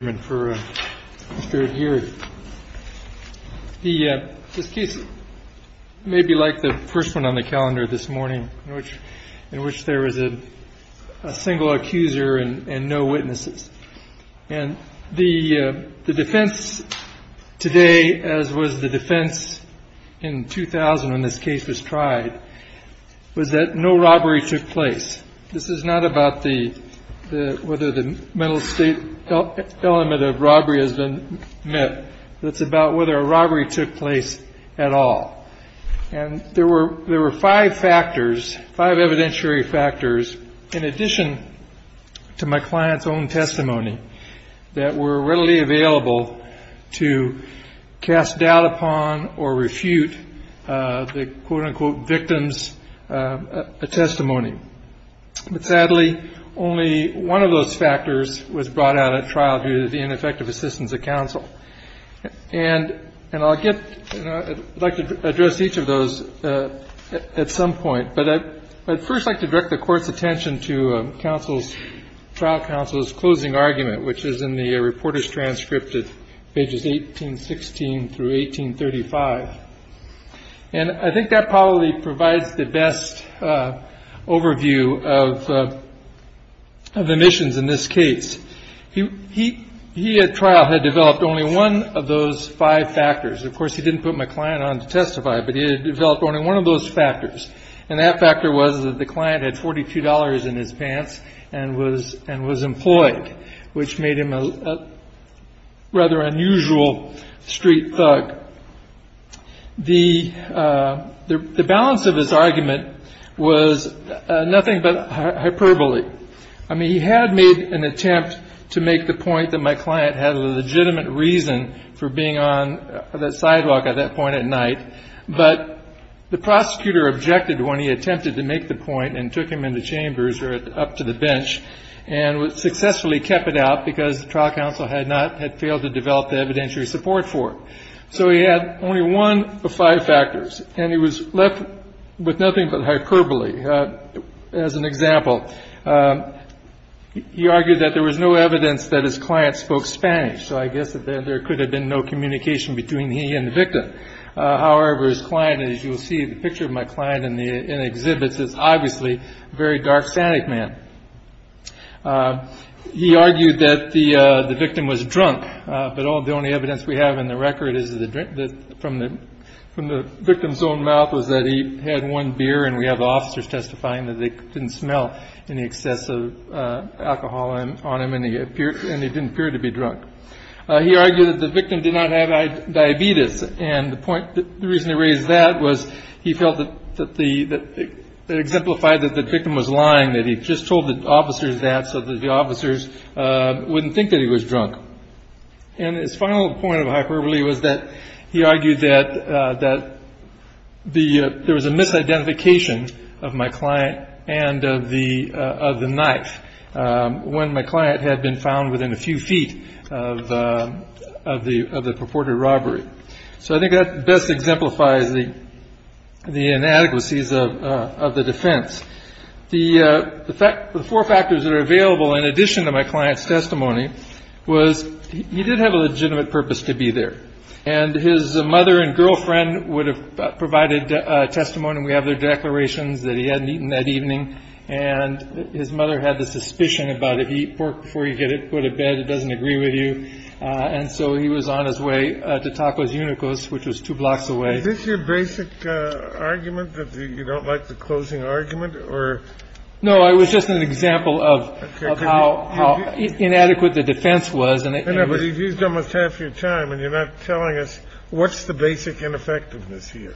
This case may be like the first on the calendar this morning in which there was a single accuser and no witnesses. The defense today, as was the defense in 2000 when this case was tried, was that no robbery took place. This is not about whether the mental state element of robbery has been met. It's about whether a robbery took place at all. And there were five factors, five evidentiary factors, in addition to my client's own testimony, that were readily available to cast doubt upon or refute the quote-unquote victims' testimony. But sadly, only one of those factors was brought out at trial due to the ineffective assistance of counsel. And I'd like to address each of those at some point, but I'd first like to direct the Court's attention to trial counsel's closing argument, which is in the reporter's transcript at pages 1816 through 1835. And I think that probably provides the best overview of the missions in this case. He at trial had developed only one of those five factors. Of course, he didn't put my client on to testify, but he had developed only one of those factors, and that factor was that the client had $42 in his pants and was employed, which made him a rather unusual street thug. The balance of his argument was nothing but hyperbole. I mean, he had made an attempt to make the point that my client had a legitimate reason for being on the sidewalk at that point at night, but the prosecutor objected when he attempted to make the point and took him into chambers or up to the bench and successfully kept it out because the trial counsel had failed to develop the evidentiary support for it. So he had only one of five factors, and he was left with nothing but hyperbole. As an example, he argued that there was no evidence that his client spoke Spanish, so I guess that there could have been no communication between he and the victim. However, his client, as you will see in the picture of my client in the exhibits, is obviously a very dark, static man. He argued that the victim was drunk, but the only evidence we have in the record from the victim's own mouth was that he had one beer and we have the officers testifying that they didn't smell any excessive alcohol on him and he didn't appear to be drunk. He argued that the victim did not have diabetes, and the reason he raised that was he felt that it exemplified that the victim was lying, that he just told the officers that so that the officers wouldn't think that he was drunk. And his final point of hyperbole was that he argued that there was a misidentification of my client and of the knife. When my client had been found within a few feet of the purported robbery. So I think that best exemplifies the inadequacies of the defense. The four factors that are available in addition to my client's testimony was he did have a legitimate purpose to be there, and his mother and girlfriend would have provided testimony. We have their declarations that he hadn't eaten that evening and his mother had the suspicion about it. He pork before you get it put a bed. It doesn't agree with you. And so he was on his way to Tacos Unicos, which was two blocks away. Is this your basic argument that you don't like the closing argument or? No, I was just an example of how inadequate the defense was. And I know, but you've used almost half your time and you're not telling us what's the basic ineffectiveness here.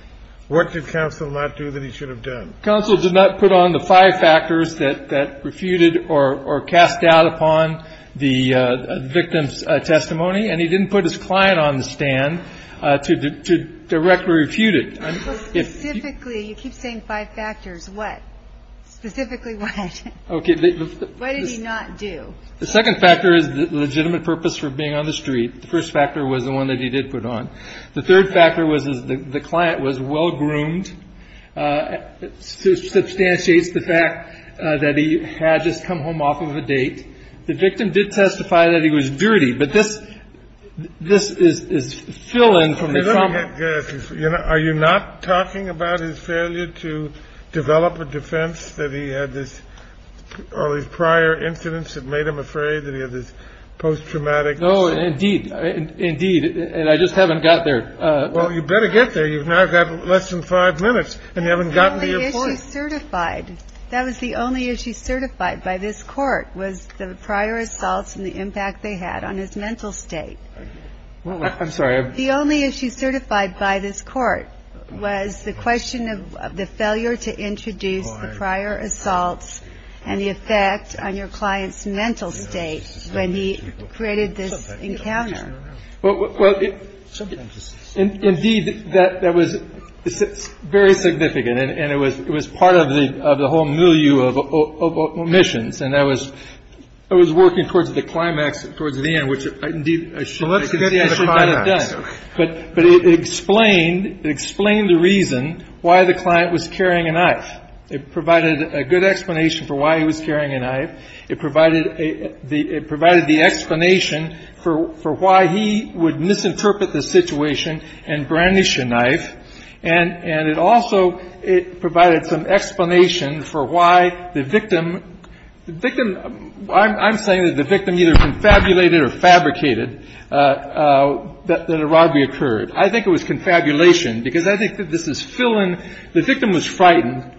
What did counsel not do that he should have done? Counsel did not put on the five factors that that refuted or cast doubt upon the victim's testimony. And he didn't put his client on the stand to to directly refute it. If typically you keep saying five factors, what specifically? OK, what did he not do? The second factor is the legitimate purpose for being on the street. The first factor was the one that he did put on. The third factor was the client was well-groomed. Substantiates the fact that he had just come home off of a date. The victim did testify that he was dirty. But this this is his fill in from the trauma. Are you not talking about his failure to develop a defense that he had this all these prior incidents that made him afraid that he had this post-traumatic? Oh, indeed. Indeed. And I just haven't got there. Well, you better get there. You've now got less than five minutes and you haven't gotten certified. That was the only issue certified by this court was the prior assaults and the impact they had on his mental state. I'm sorry. The only issue certified by this court was the question of the failure to introduce the prior assaults and the effect on your client's mental state. When he created this encounter. Well, indeed, that was very significant. And it was it was part of the of the whole milieu of omissions. And that was I was working towards the climax, towards the end, which indeed I should have done. But but it explained it explained the reason why the client was carrying a knife. It provided a good explanation for why he was carrying a knife. It provided a it provided the explanation for for why he would misinterpret the situation and brandish a knife. And and it also it provided some explanation for why the victim, the victim. I'm saying that the victim either confabulated or fabricated that the robbery occurred. I think it was confabulation because I think that this is filling. The victim was frightened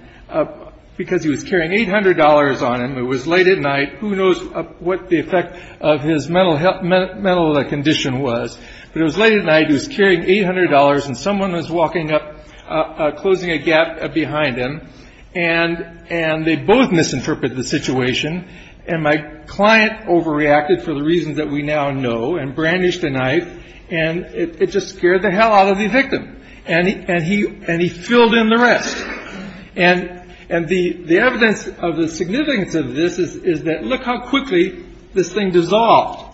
because he was carrying eight hundred dollars on him. It was late at night. Who knows what the effect of his mental health, mental condition was. But it was late at night. He was carrying eight hundred dollars and someone was walking up, closing a gap behind him. And and they both misinterpret the situation. And my client overreacted for the reasons that we now know and brandished a knife. And it just scared the hell out of the victim. And he and he and he filled in the rest. And and the the evidence of the significance of this is that look how quickly this thing dissolved.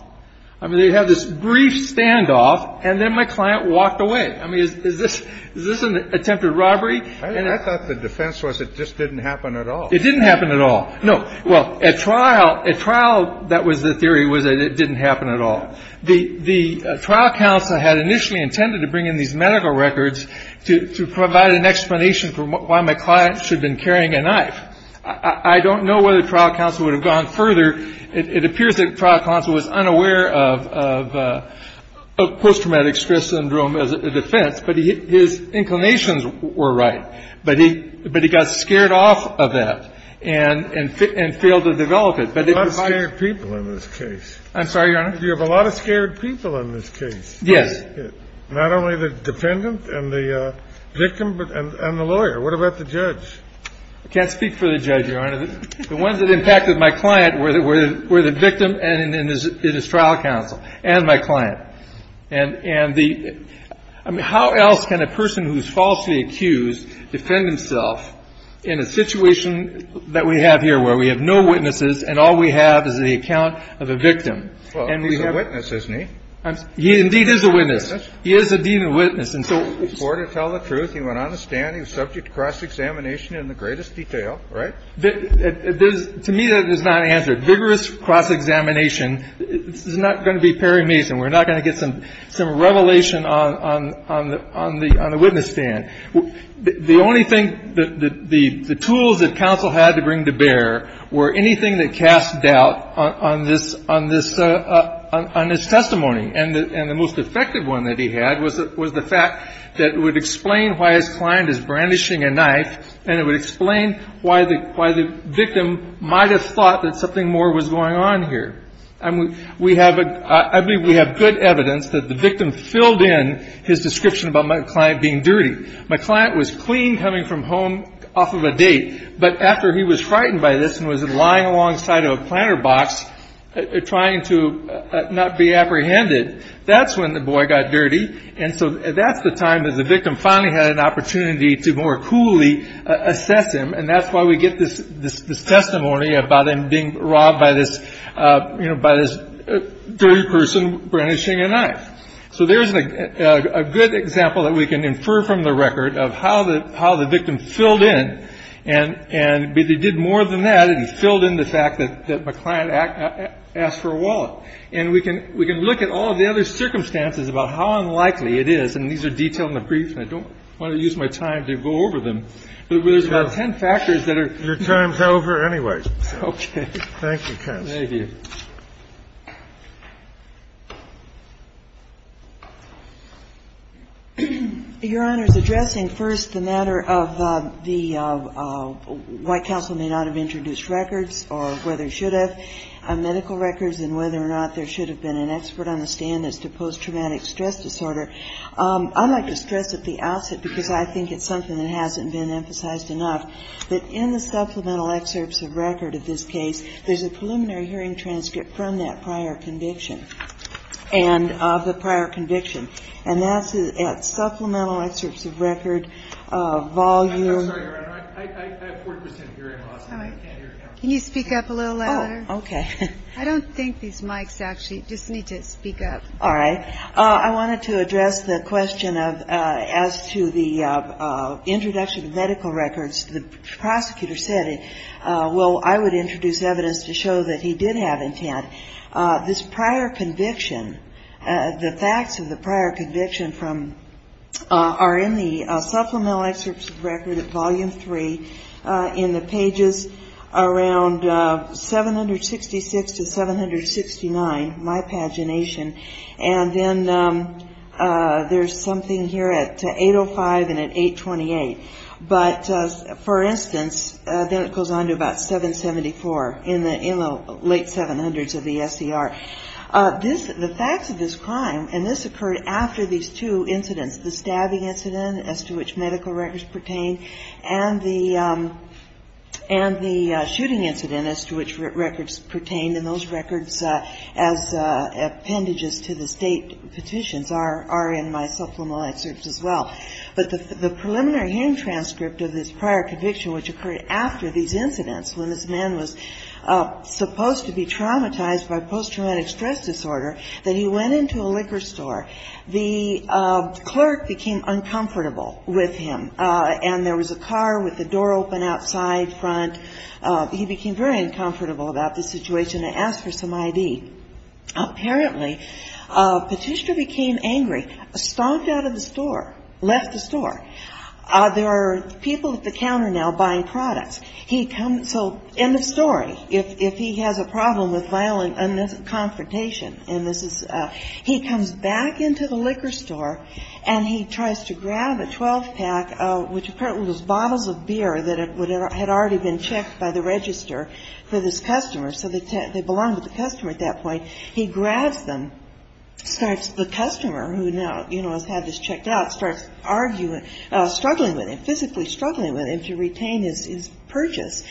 I mean, they had this brief standoff and then my client walked away. I mean, is this is this an attempted robbery? I thought the defense was it just didn't happen at all. It didn't happen at all. No. Well, at trial, at trial, that was the theory was that it didn't happen at all. The trial counsel had initially intended to bring in these medical records to provide an explanation for why my client should have been carrying a knife. I don't know whether trial counsel would have gone further. It appears that trial counsel was unaware of post-traumatic stress syndrome as a defense. But his inclinations were right. But he but he got scared off of that and and and failed to develop it. But a lot of people in this case. I'm sorry. You have a lot of scared people in this case. Yes. Not only the defendant and the victim, but the lawyer. What about the judge? I can't speak for the judge. The ones that impacted my client were the were the victim. And it is trial counsel and my client. And and the I mean, how else can a person who's falsely accused defend himself in a situation that we have here, where we have no witnesses and all we have is the account of a victim? And we have witnesses. He indeed is a witness. He is a demon witness. And so for to tell the truth, he went on a stand. He was subject to cross-examination in the greatest detail. Right. There's to me that is not answered. Vigorous cross-examination is not going to be Perry Mason. We're not going to get some some revelation on on on the on the on the witness stand. The only thing that the tools that counsel had to bring to bear were anything that cast doubt on this on this on this testimony. And the most effective one that he had was it was the fact that would explain why his client is brandishing a knife. And it would explain why the why the victim might have thought that something more was going on here. I mean, we have I believe we have good evidence that the victim filled in his description about my client being dirty. My client was clean coming from home off of a date. But after he was frightened by this and was lying alongside of a planter box trying to not be apprehended, that's when the boy got dirty. And so that's the time that the victim finally had an opportunity to more coolly assess him. And that's why we get this this testimony about him being robbed by this, you know, by this dirty person brandishing a knife. So there's a good example that we can infer from the record of how the how the victim filled in. And and they did more than that. And he filled in the fact that my client asked for a wallet. And we can we can look at all of the other circumstances about how unlikely it is. And these are detailed in the brief. I don't want to use my time to go over them. But there's about 10 factors that are. Your time's over anyway. Okay. Thank you, counsel. Thank you. Your Honor, addressing first the matter of the White Council may not have introduced records or whether it should have medical records and whether or not there should have been an expert on the stand as to post-traumatic stress disorder, I'd like to stress at the outset, because I think it's something that hasn't been emphasized enough, that in the supplemental excerpts of record of this case, there's a preliminary hearing transcript from that prior conviction and of the prior conviction. And that's at supplemental excerpts of record of volume. I'm sorry, Your Honor, I have 40 percent hearing loss. Can you speak up a little louder? Okay. I don't think these mics actually just need to speak up. All right. I wanted to address the question of as to the introduction of medical records. The prosecutor said, well, I would introduce evidence to show that he did have intent. This prior conviction, the facts of the prior conviction from are in the supplemental excerpts of record of volume three in the pages around 766 to 769, my pagination, and then there's something here at 805 and at 828. But, for instance, then it goes on to about 774 in the late 700s of the SCR. This, the facts of this crime, and this occurred after these two incidents, the stabbing incident as to which medical records pertain and the shooting incident as to which records pertain. And those records as appendages to the state petitions are in my supplemental excerpts as well. But the preliminary hearing transcript of this prior conviction, which occurred after these incidents, when this man was supposed to be traumatized by post-traumatic stress disorder, that he went into a liquor store. The clerk became uncomfortable with him, and there was a car with the door open outside, front. He became very uncomfortable about the situation and asked for some ID. Apparently, Petitia became angry, stomped out of the store, left the store. There are people at the counter now buying products. He comes, so end of story, if he has a problem with violent confrontation. And this is, he comes back into the liquor store, and he tries to grab a 12-pack, which apparently was bottles of beer that had already been checked by the register for this customer. So they belonged to the customer at that point. He grabs them, starts the customer, who now, you know, has had this checked out, starts arguing, struggling with him, physically struggling with him to retain his purchase.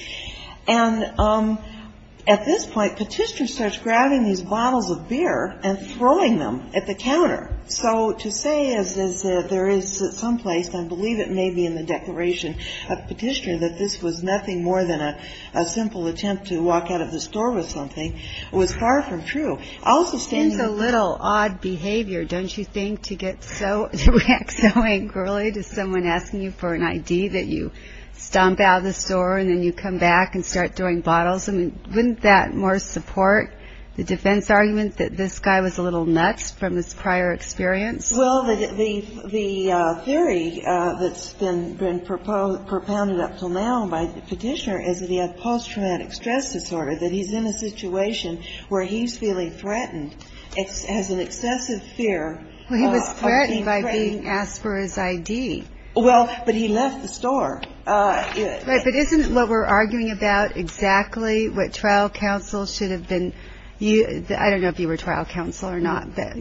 And at this point, Petitia starts grabbing these bottles of beer and throwing them at the counter. So to say, as there is someplace, and I believe it may be in the declaration of Petitia, that this was nothing more than a simple attempt to walk out of the store with something, was far from true. I'll also stand here. It seems a little odd behavior, don't you think, to get so, to react so angrily to someone asking you for an ID, that you stomp out of the store, and then you come back and start throwing bottles? I mean, wouldn't that more support the defense argument that this guy was a little nuts from his prior experience? Well, the theory that's been propounded up until now by Petitia is that he has post-traumatic stress disorder, that he's in a situation where he's feeling threatened, has an excessive fear of being threatened. Well, he was threatened by being asked for his ID. Well, but he left the store. Right, but isn't what we're arguing about exactly what trial counsel should have been, I don't know if you were trial counsel or not, but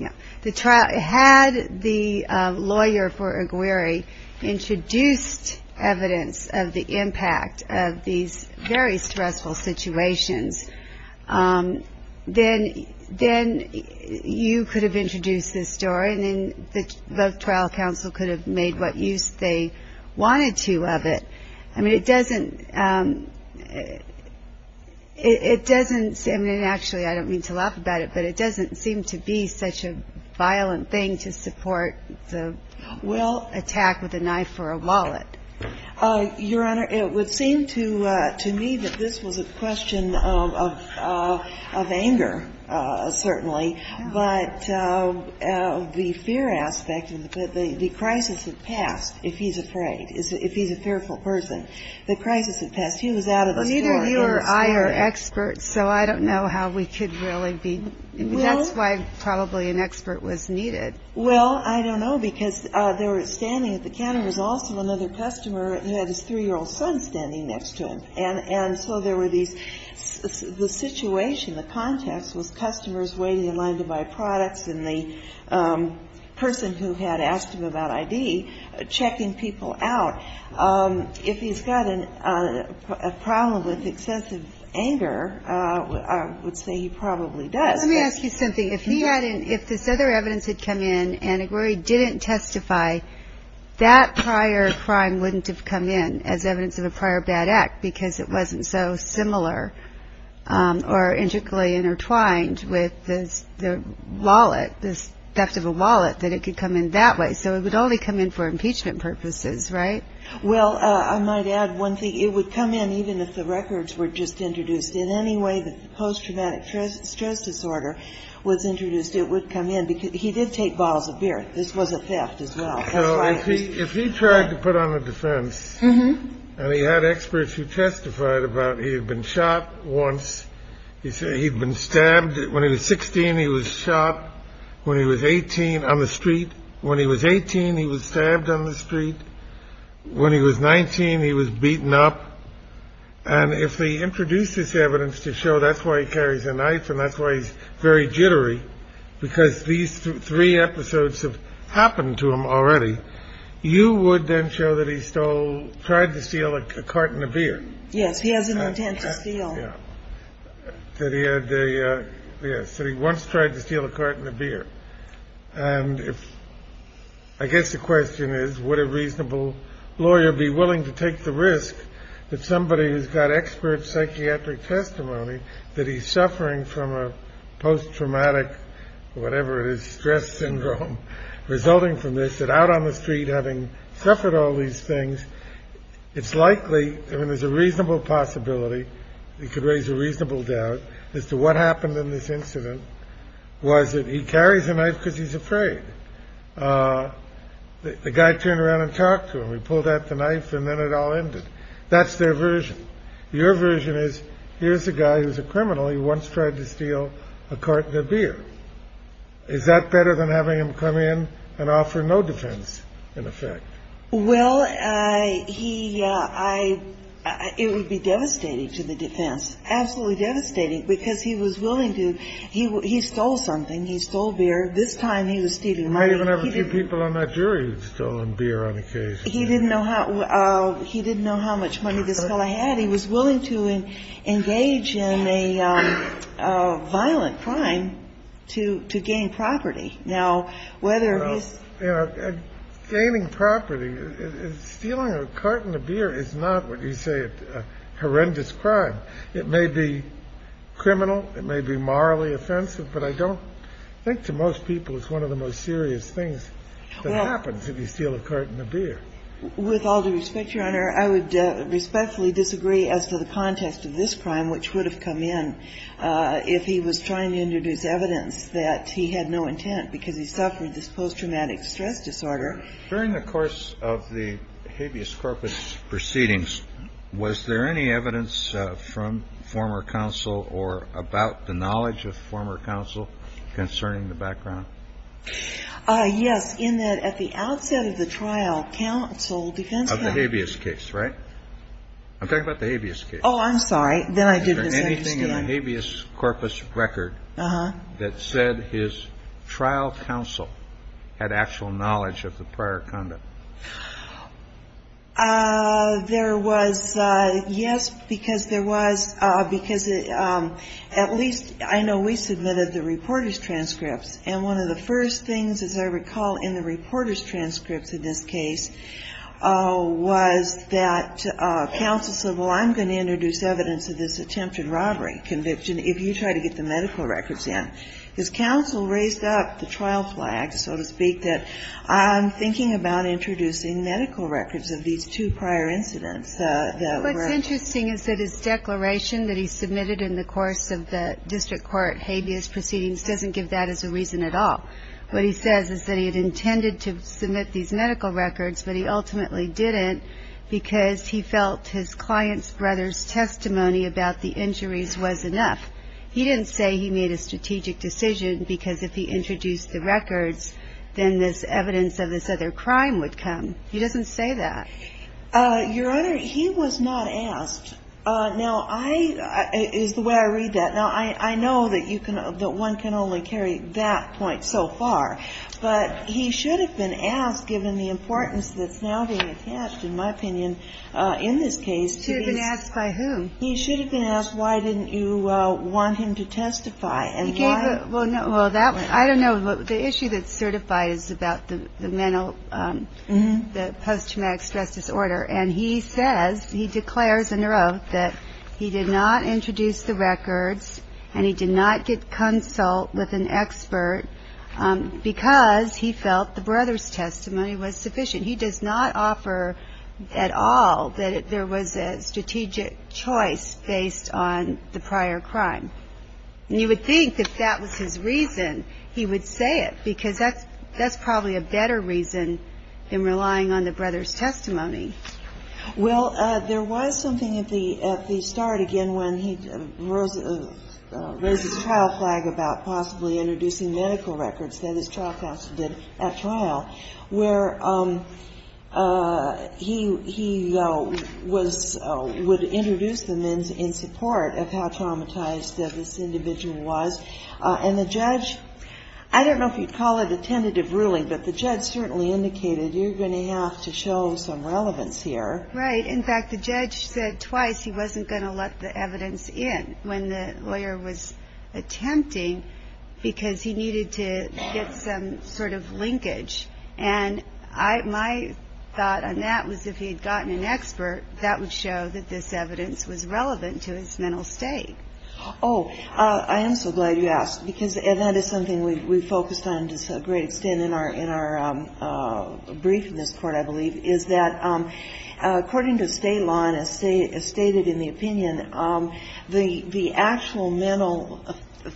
had the lawyer for Aguirre introduced evidence of the impact of these very stressful situations, then you could have introduced this story, and then the trial counsel could have made what use they wanted to of it. I mean, it doesn't – it doesn't – I mean, actually, I don't mean to laugh about it, but it doesn't seem to be such a violent thing to support the attack with a knife or a wallet. Your Honor, it would seem to me that this was a question of anger, certainly. But the fear aspect, the crisis had passed, if he's afraid, if he's a fearful person. The crisis had passed. He was out of the store. Neither you or I are experts, so I don't know how we could really be. That's why probably an expert was needed. Well, I don't know, because they were standing at the counter. There was also another customer who had his 3-year-old son standing next to him. And so there were these – the situation, the context was customers waiting in line to buy products, and the person who had asked him about I.D. checking people out. If he's got a problem with excessive anger, I would say he probably does. Let me ask you something. If he hadn't – if this other evidence had come in and Aguirre didn't testify, that prior crime wouldn't have come in as evidence of a prior bad act, because it wasn't so similar or intricately intertwined with the wallet, the theft of a wallet, that it could come in that way. So it would only come in for impeachment purposes, right? Well, I might add one thing. It would come in even if the records were just introduced. In any way the post-traumatic stress disorder was introduced, it would come in. He did take bottles of beer. This was a theft as well. So if he tried to put on a defense, and he had experts who testified about he had been shot once, he said he'd been stabbed – when he was 16, he was shot. When he was 18, on the street. When he was 18, he was stabbed on the street. When he was 19, he was beaten up. And if they introduce this evidence to show that's why he carries a knife and that's why he's very jittery, because these three episodes have happened to him already, you would then show that he stole – tried to steal a carton of beer. Yes, he has an intent to steal. That he had a – yes, that he once tried to steal a carton of beer. And if – I guess the question is, would a reasonable lawyer be willing to take the risk that somebody who's got expert psychiatric testimony, that he's suffering from a post-traumatic, whatever it is, stress syndrome, resulting from this, that out on the street having suffered all these things, it's likely – I mean, there's a reasonable possibility, you could raise a reasonable doubt as to what happened in this incident, was that he carries a knife because he's afraid. The guy turned around and talked to him. He pulled out the knife and then it all ended. That's their version. Your version is, here's a guy who's a criminal. He once tried to steal a carton of beer. Is that better than having him come in and offer no defense, in effect? Well, he – I – it would be devastating to the defense. Absolutely devastating because he was willing to – he stole something. He stole beer. This time he was stealing money. I even have a few people on that jury who've stolen beer on occasion. He didn't know how – he didn't know how much money this fellow had. He was willing to engage in a violent crime to gain property. Now, whether he's – Well, you know, gaining property, stealing a carton of beer is not, what you say, a horrendous crime. It may be criminal. It may be morally offensive. But I don't – I think to most people it's one of the most serious things that happens if you steal a carton of beer. With all due respect, Your Honor, I would respectfully disagree as to the context of this crime, which would have come in if he was trying to introduce evidence that he had no intent because he suffered this post-traumatic stress disorder. During the course of the habeas corpus proceedings, was there any evidence from former counsel or about the knowledge of former counsel concerning the background? Yes, in that at the outset of the trial, counsel defense counsel – Of the habeas case, right? I'm talking about the habeas case. Oh, I'm sorry. Then I didn't understand. Is there anything in the habeas corpus record that said his trial counsel had actual knowledge of the prior conduct? There was – yes, because there was – because at least I know we submitted the reporter's transcripts. And one of the first things, as I recall, in the reporter's transcripts in this case was that counsel said, well, I'm going to introduce evidence of this attempted robbery conviction if you try to get the medical records in. His counsel raised up the trial flag, so to speak, that I'm thinking about introducing medical records of these two prior incidents that were – What's interesting is that his declaration that he submitted in the course of the district court habeas proceedings doesn't give that as a reason at all. What he says is that he had intended to submit these medical records, but he ultimately didn't because he felt his client's brother's testimony about the injuries was enough. He didn't say he made a strategic decision because if he introduced the records, then this evidence of this other crime would come. He doesn't say that. Your Honor, he was not asked. Now, I – is the way I read that. Now, I know that you can – that one can only carry that point so far. But he should have been asked, given the importance that's now being attached, in my opinion, in this case. He should have been asked by whom? He should have been asked why didn't you want him to testify and why – Well, that – I don't know. The issue that's certified is about the mental – the post-traumatic stress disorder. And he says – he declares in her oath that he did not introduce the records and he did not consult with an expert because he felt the brother's testimony was sufficient. He does not offer at all that there was a strategic choice based on the prior crime. And you would think if that was his reason, he would say it because that's probably a better reason than relying on the brother's testimony. Well, there was something at the start, again, when he raised his trial flag about possibly introducing medical records that his trial counsel did at trial, where he was – would introduce them in support of how traumatized this individual was. And the judge – I don't know if you'd call it a tentative ruling, but the judge certainly indicated you're going to have to show some relevance here. Right. In fact, the judge said twice he wasn't going to let the evidence in when the lawyer was attempting because he needed to get some sort of linkage. And my thought on that was if he had gotten an expert, that would show that this evidence was relevant to his mental state. Oh, I am so glad you asked because that is something we focused on to a great extent in our brief in this court, I believe, is that according to Stalon, as stated in the opinion, the actual mental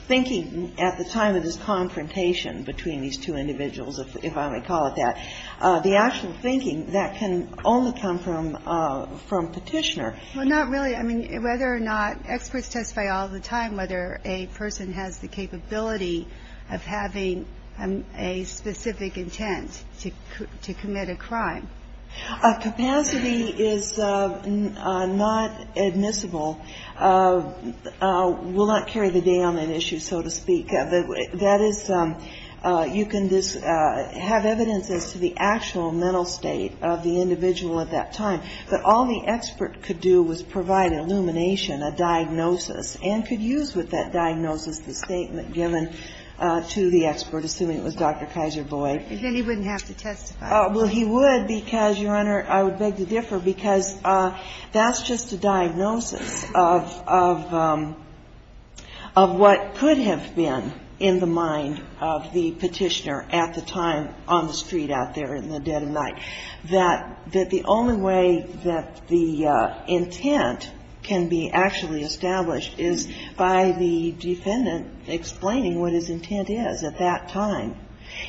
thinking at the time of this confrontation between these two individuals, if I may call it that, the actual thinking, that can only come from Petitioner. Well, not really. I mean, whether or not experts testify all the time whether a person has the capability of having a specific intent to commit a crime. Capacity is not admissible, will not carry the day on an issue, so to speak. That is, you can have evidence as to the actual mental state of the individual at that time. But all the expert could do was provide an illumination, a diagnosis, and could use with that diagnosis the statement given to the expert, assuming it was Dr. Kaiser Boyd. And then he wouldn't have to testify. Well, he would because, Your Honor, I would beg to differ, because that's just a diagnosis of what could have been in the mind of the Petitioner at the time on the street out there in the dead of night, that the only way that the intent can be actually established is by the defendant explaining what his intent is at that time.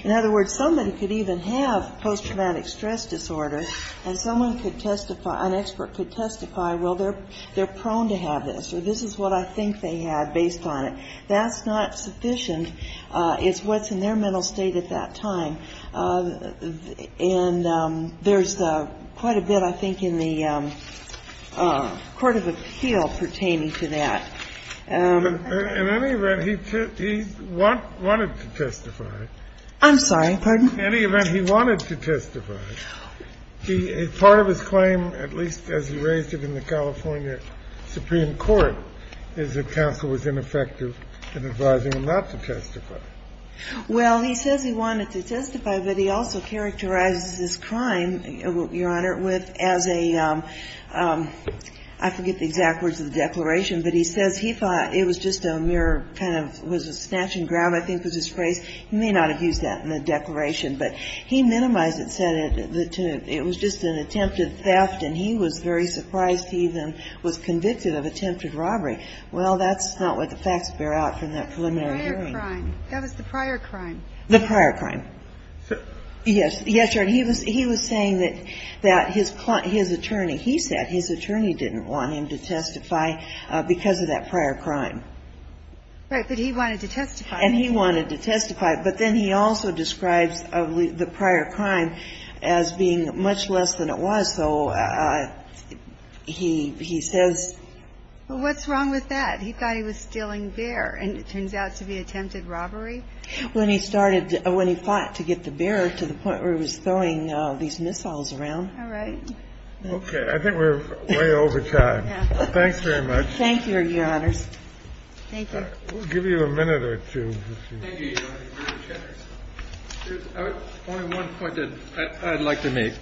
In other words, somebody could even have post-traumatic stress disorder and someone could testify, an expert could testify, well, they're prone to have this, or this is what I think they had based on it. That's not sufficient. It's what's in their mental state at that time. And there's quite a bit, I think, in the Court of Appeal pertaining to that. In any event, he wanted to testify. I'm sorry, pardon? In any event, he wanted to testify. No. Part of his claim, at least as he raised it in the California Supreme Court, is that counsel was ineffective in advising him not to testify. Well, he says he wanted to testify, but he also characterizes this crime, Your Honor, as a, I forget the exact words of the declaration, but he says he thought it was just a mere kind of, was a snatch and grab, I think was his phrase. He may not have used that in the declaration, but he minimized it, said it was just an attempted theft, and he was very surprised he even was convicted of attempted robbery. Well, that's not what the facts bear out from that preliminary hearing. That was the prior crime. The prior crime. Yes, Your Honor. He was saying that his attorney, he said his attorney didn't want him to testify because of that prior crime. Right, but he wanted to testify. And he wanted to testify, but then he also describes the prior crime as being much less than it was, so he says. Well, what's wrong with that? He thought he was stealing beer, and it turns out to be attempted robbery. When he started, when he fought to get the beer to the point where he was throwing these missiles around. All right. Okay. I think we're way over time. Thanks very much. Thank you, Your Honors. Thank you. We'll give you a minute or two. Thank you, Your Honor. There's only one point that I'd like to make,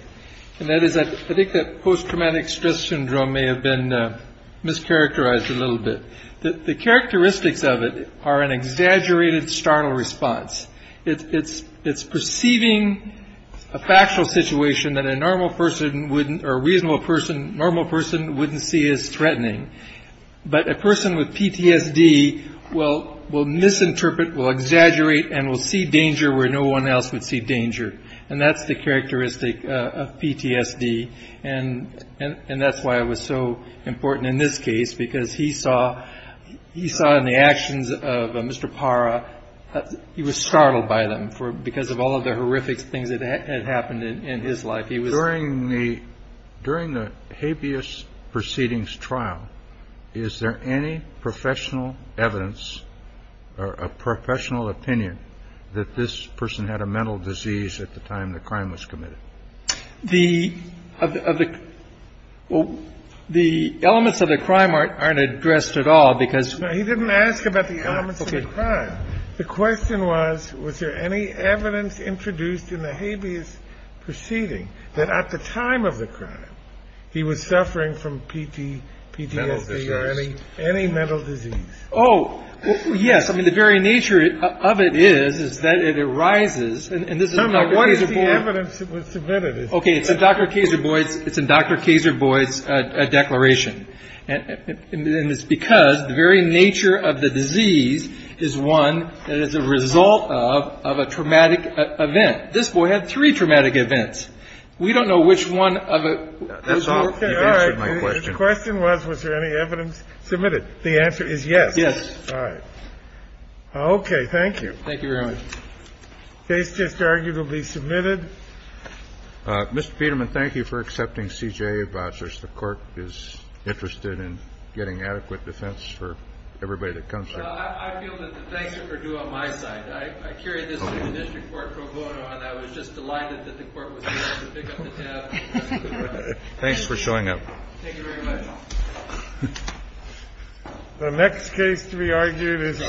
and that is I think that post-traumatic stress syndrome may have been mischaracterized a little bit. The characteristics of it are an exaggerated startle response. It's perceiving a factual situation that a normal person wouldn't, or a reasonable person, normal person wouldn't see as threatening. But a person with PTSD will misinterpret, will exaggerate, and will see danger where no one else would see danger. And that's why it was so important in this case, because he saw in the actions of Mr. Parra, he was startled by them because of all of the horrific things that had happened in his life. During the habeas proceedings trial, is there any professional evidence or a professional opinion that this person had a mental disease at the time the crime was committed? The elements of the crime aren't addressed at all because- He didn't ask about the elements of the crime. The question was, was there any evidence introduced in the habeas proceeding that at the time of the crime, he was suffering from PTSD or any mental disease? Oh, yes. I mean, the very nature of it is, is that it arises- What is the evidence that was submitted? Okay, it's in Dr. Kazer Boyd's, it's in Dr. Kazer Boyd's declaration. And it's because the very nature of the disease is one that is a result of a traumatic event. This boy had three traumatic events. We don't know which one of it- That's all. You've answered my question. The question was, was there any evidence submitted? The answer is yes. Yes. All right. Okay, thank you. Thank you very much. Case just arguably submitted. Mr. Peterman, thank you for accepting CJA vouchers. The court is interested in getting adequate defense for everybody that comes here. I feel that the thanks are due on my side. I carried this through the district court pro bono and I was just delighted that the court was able to pick up the tab. Thanks for showing up. The next case to be argued is-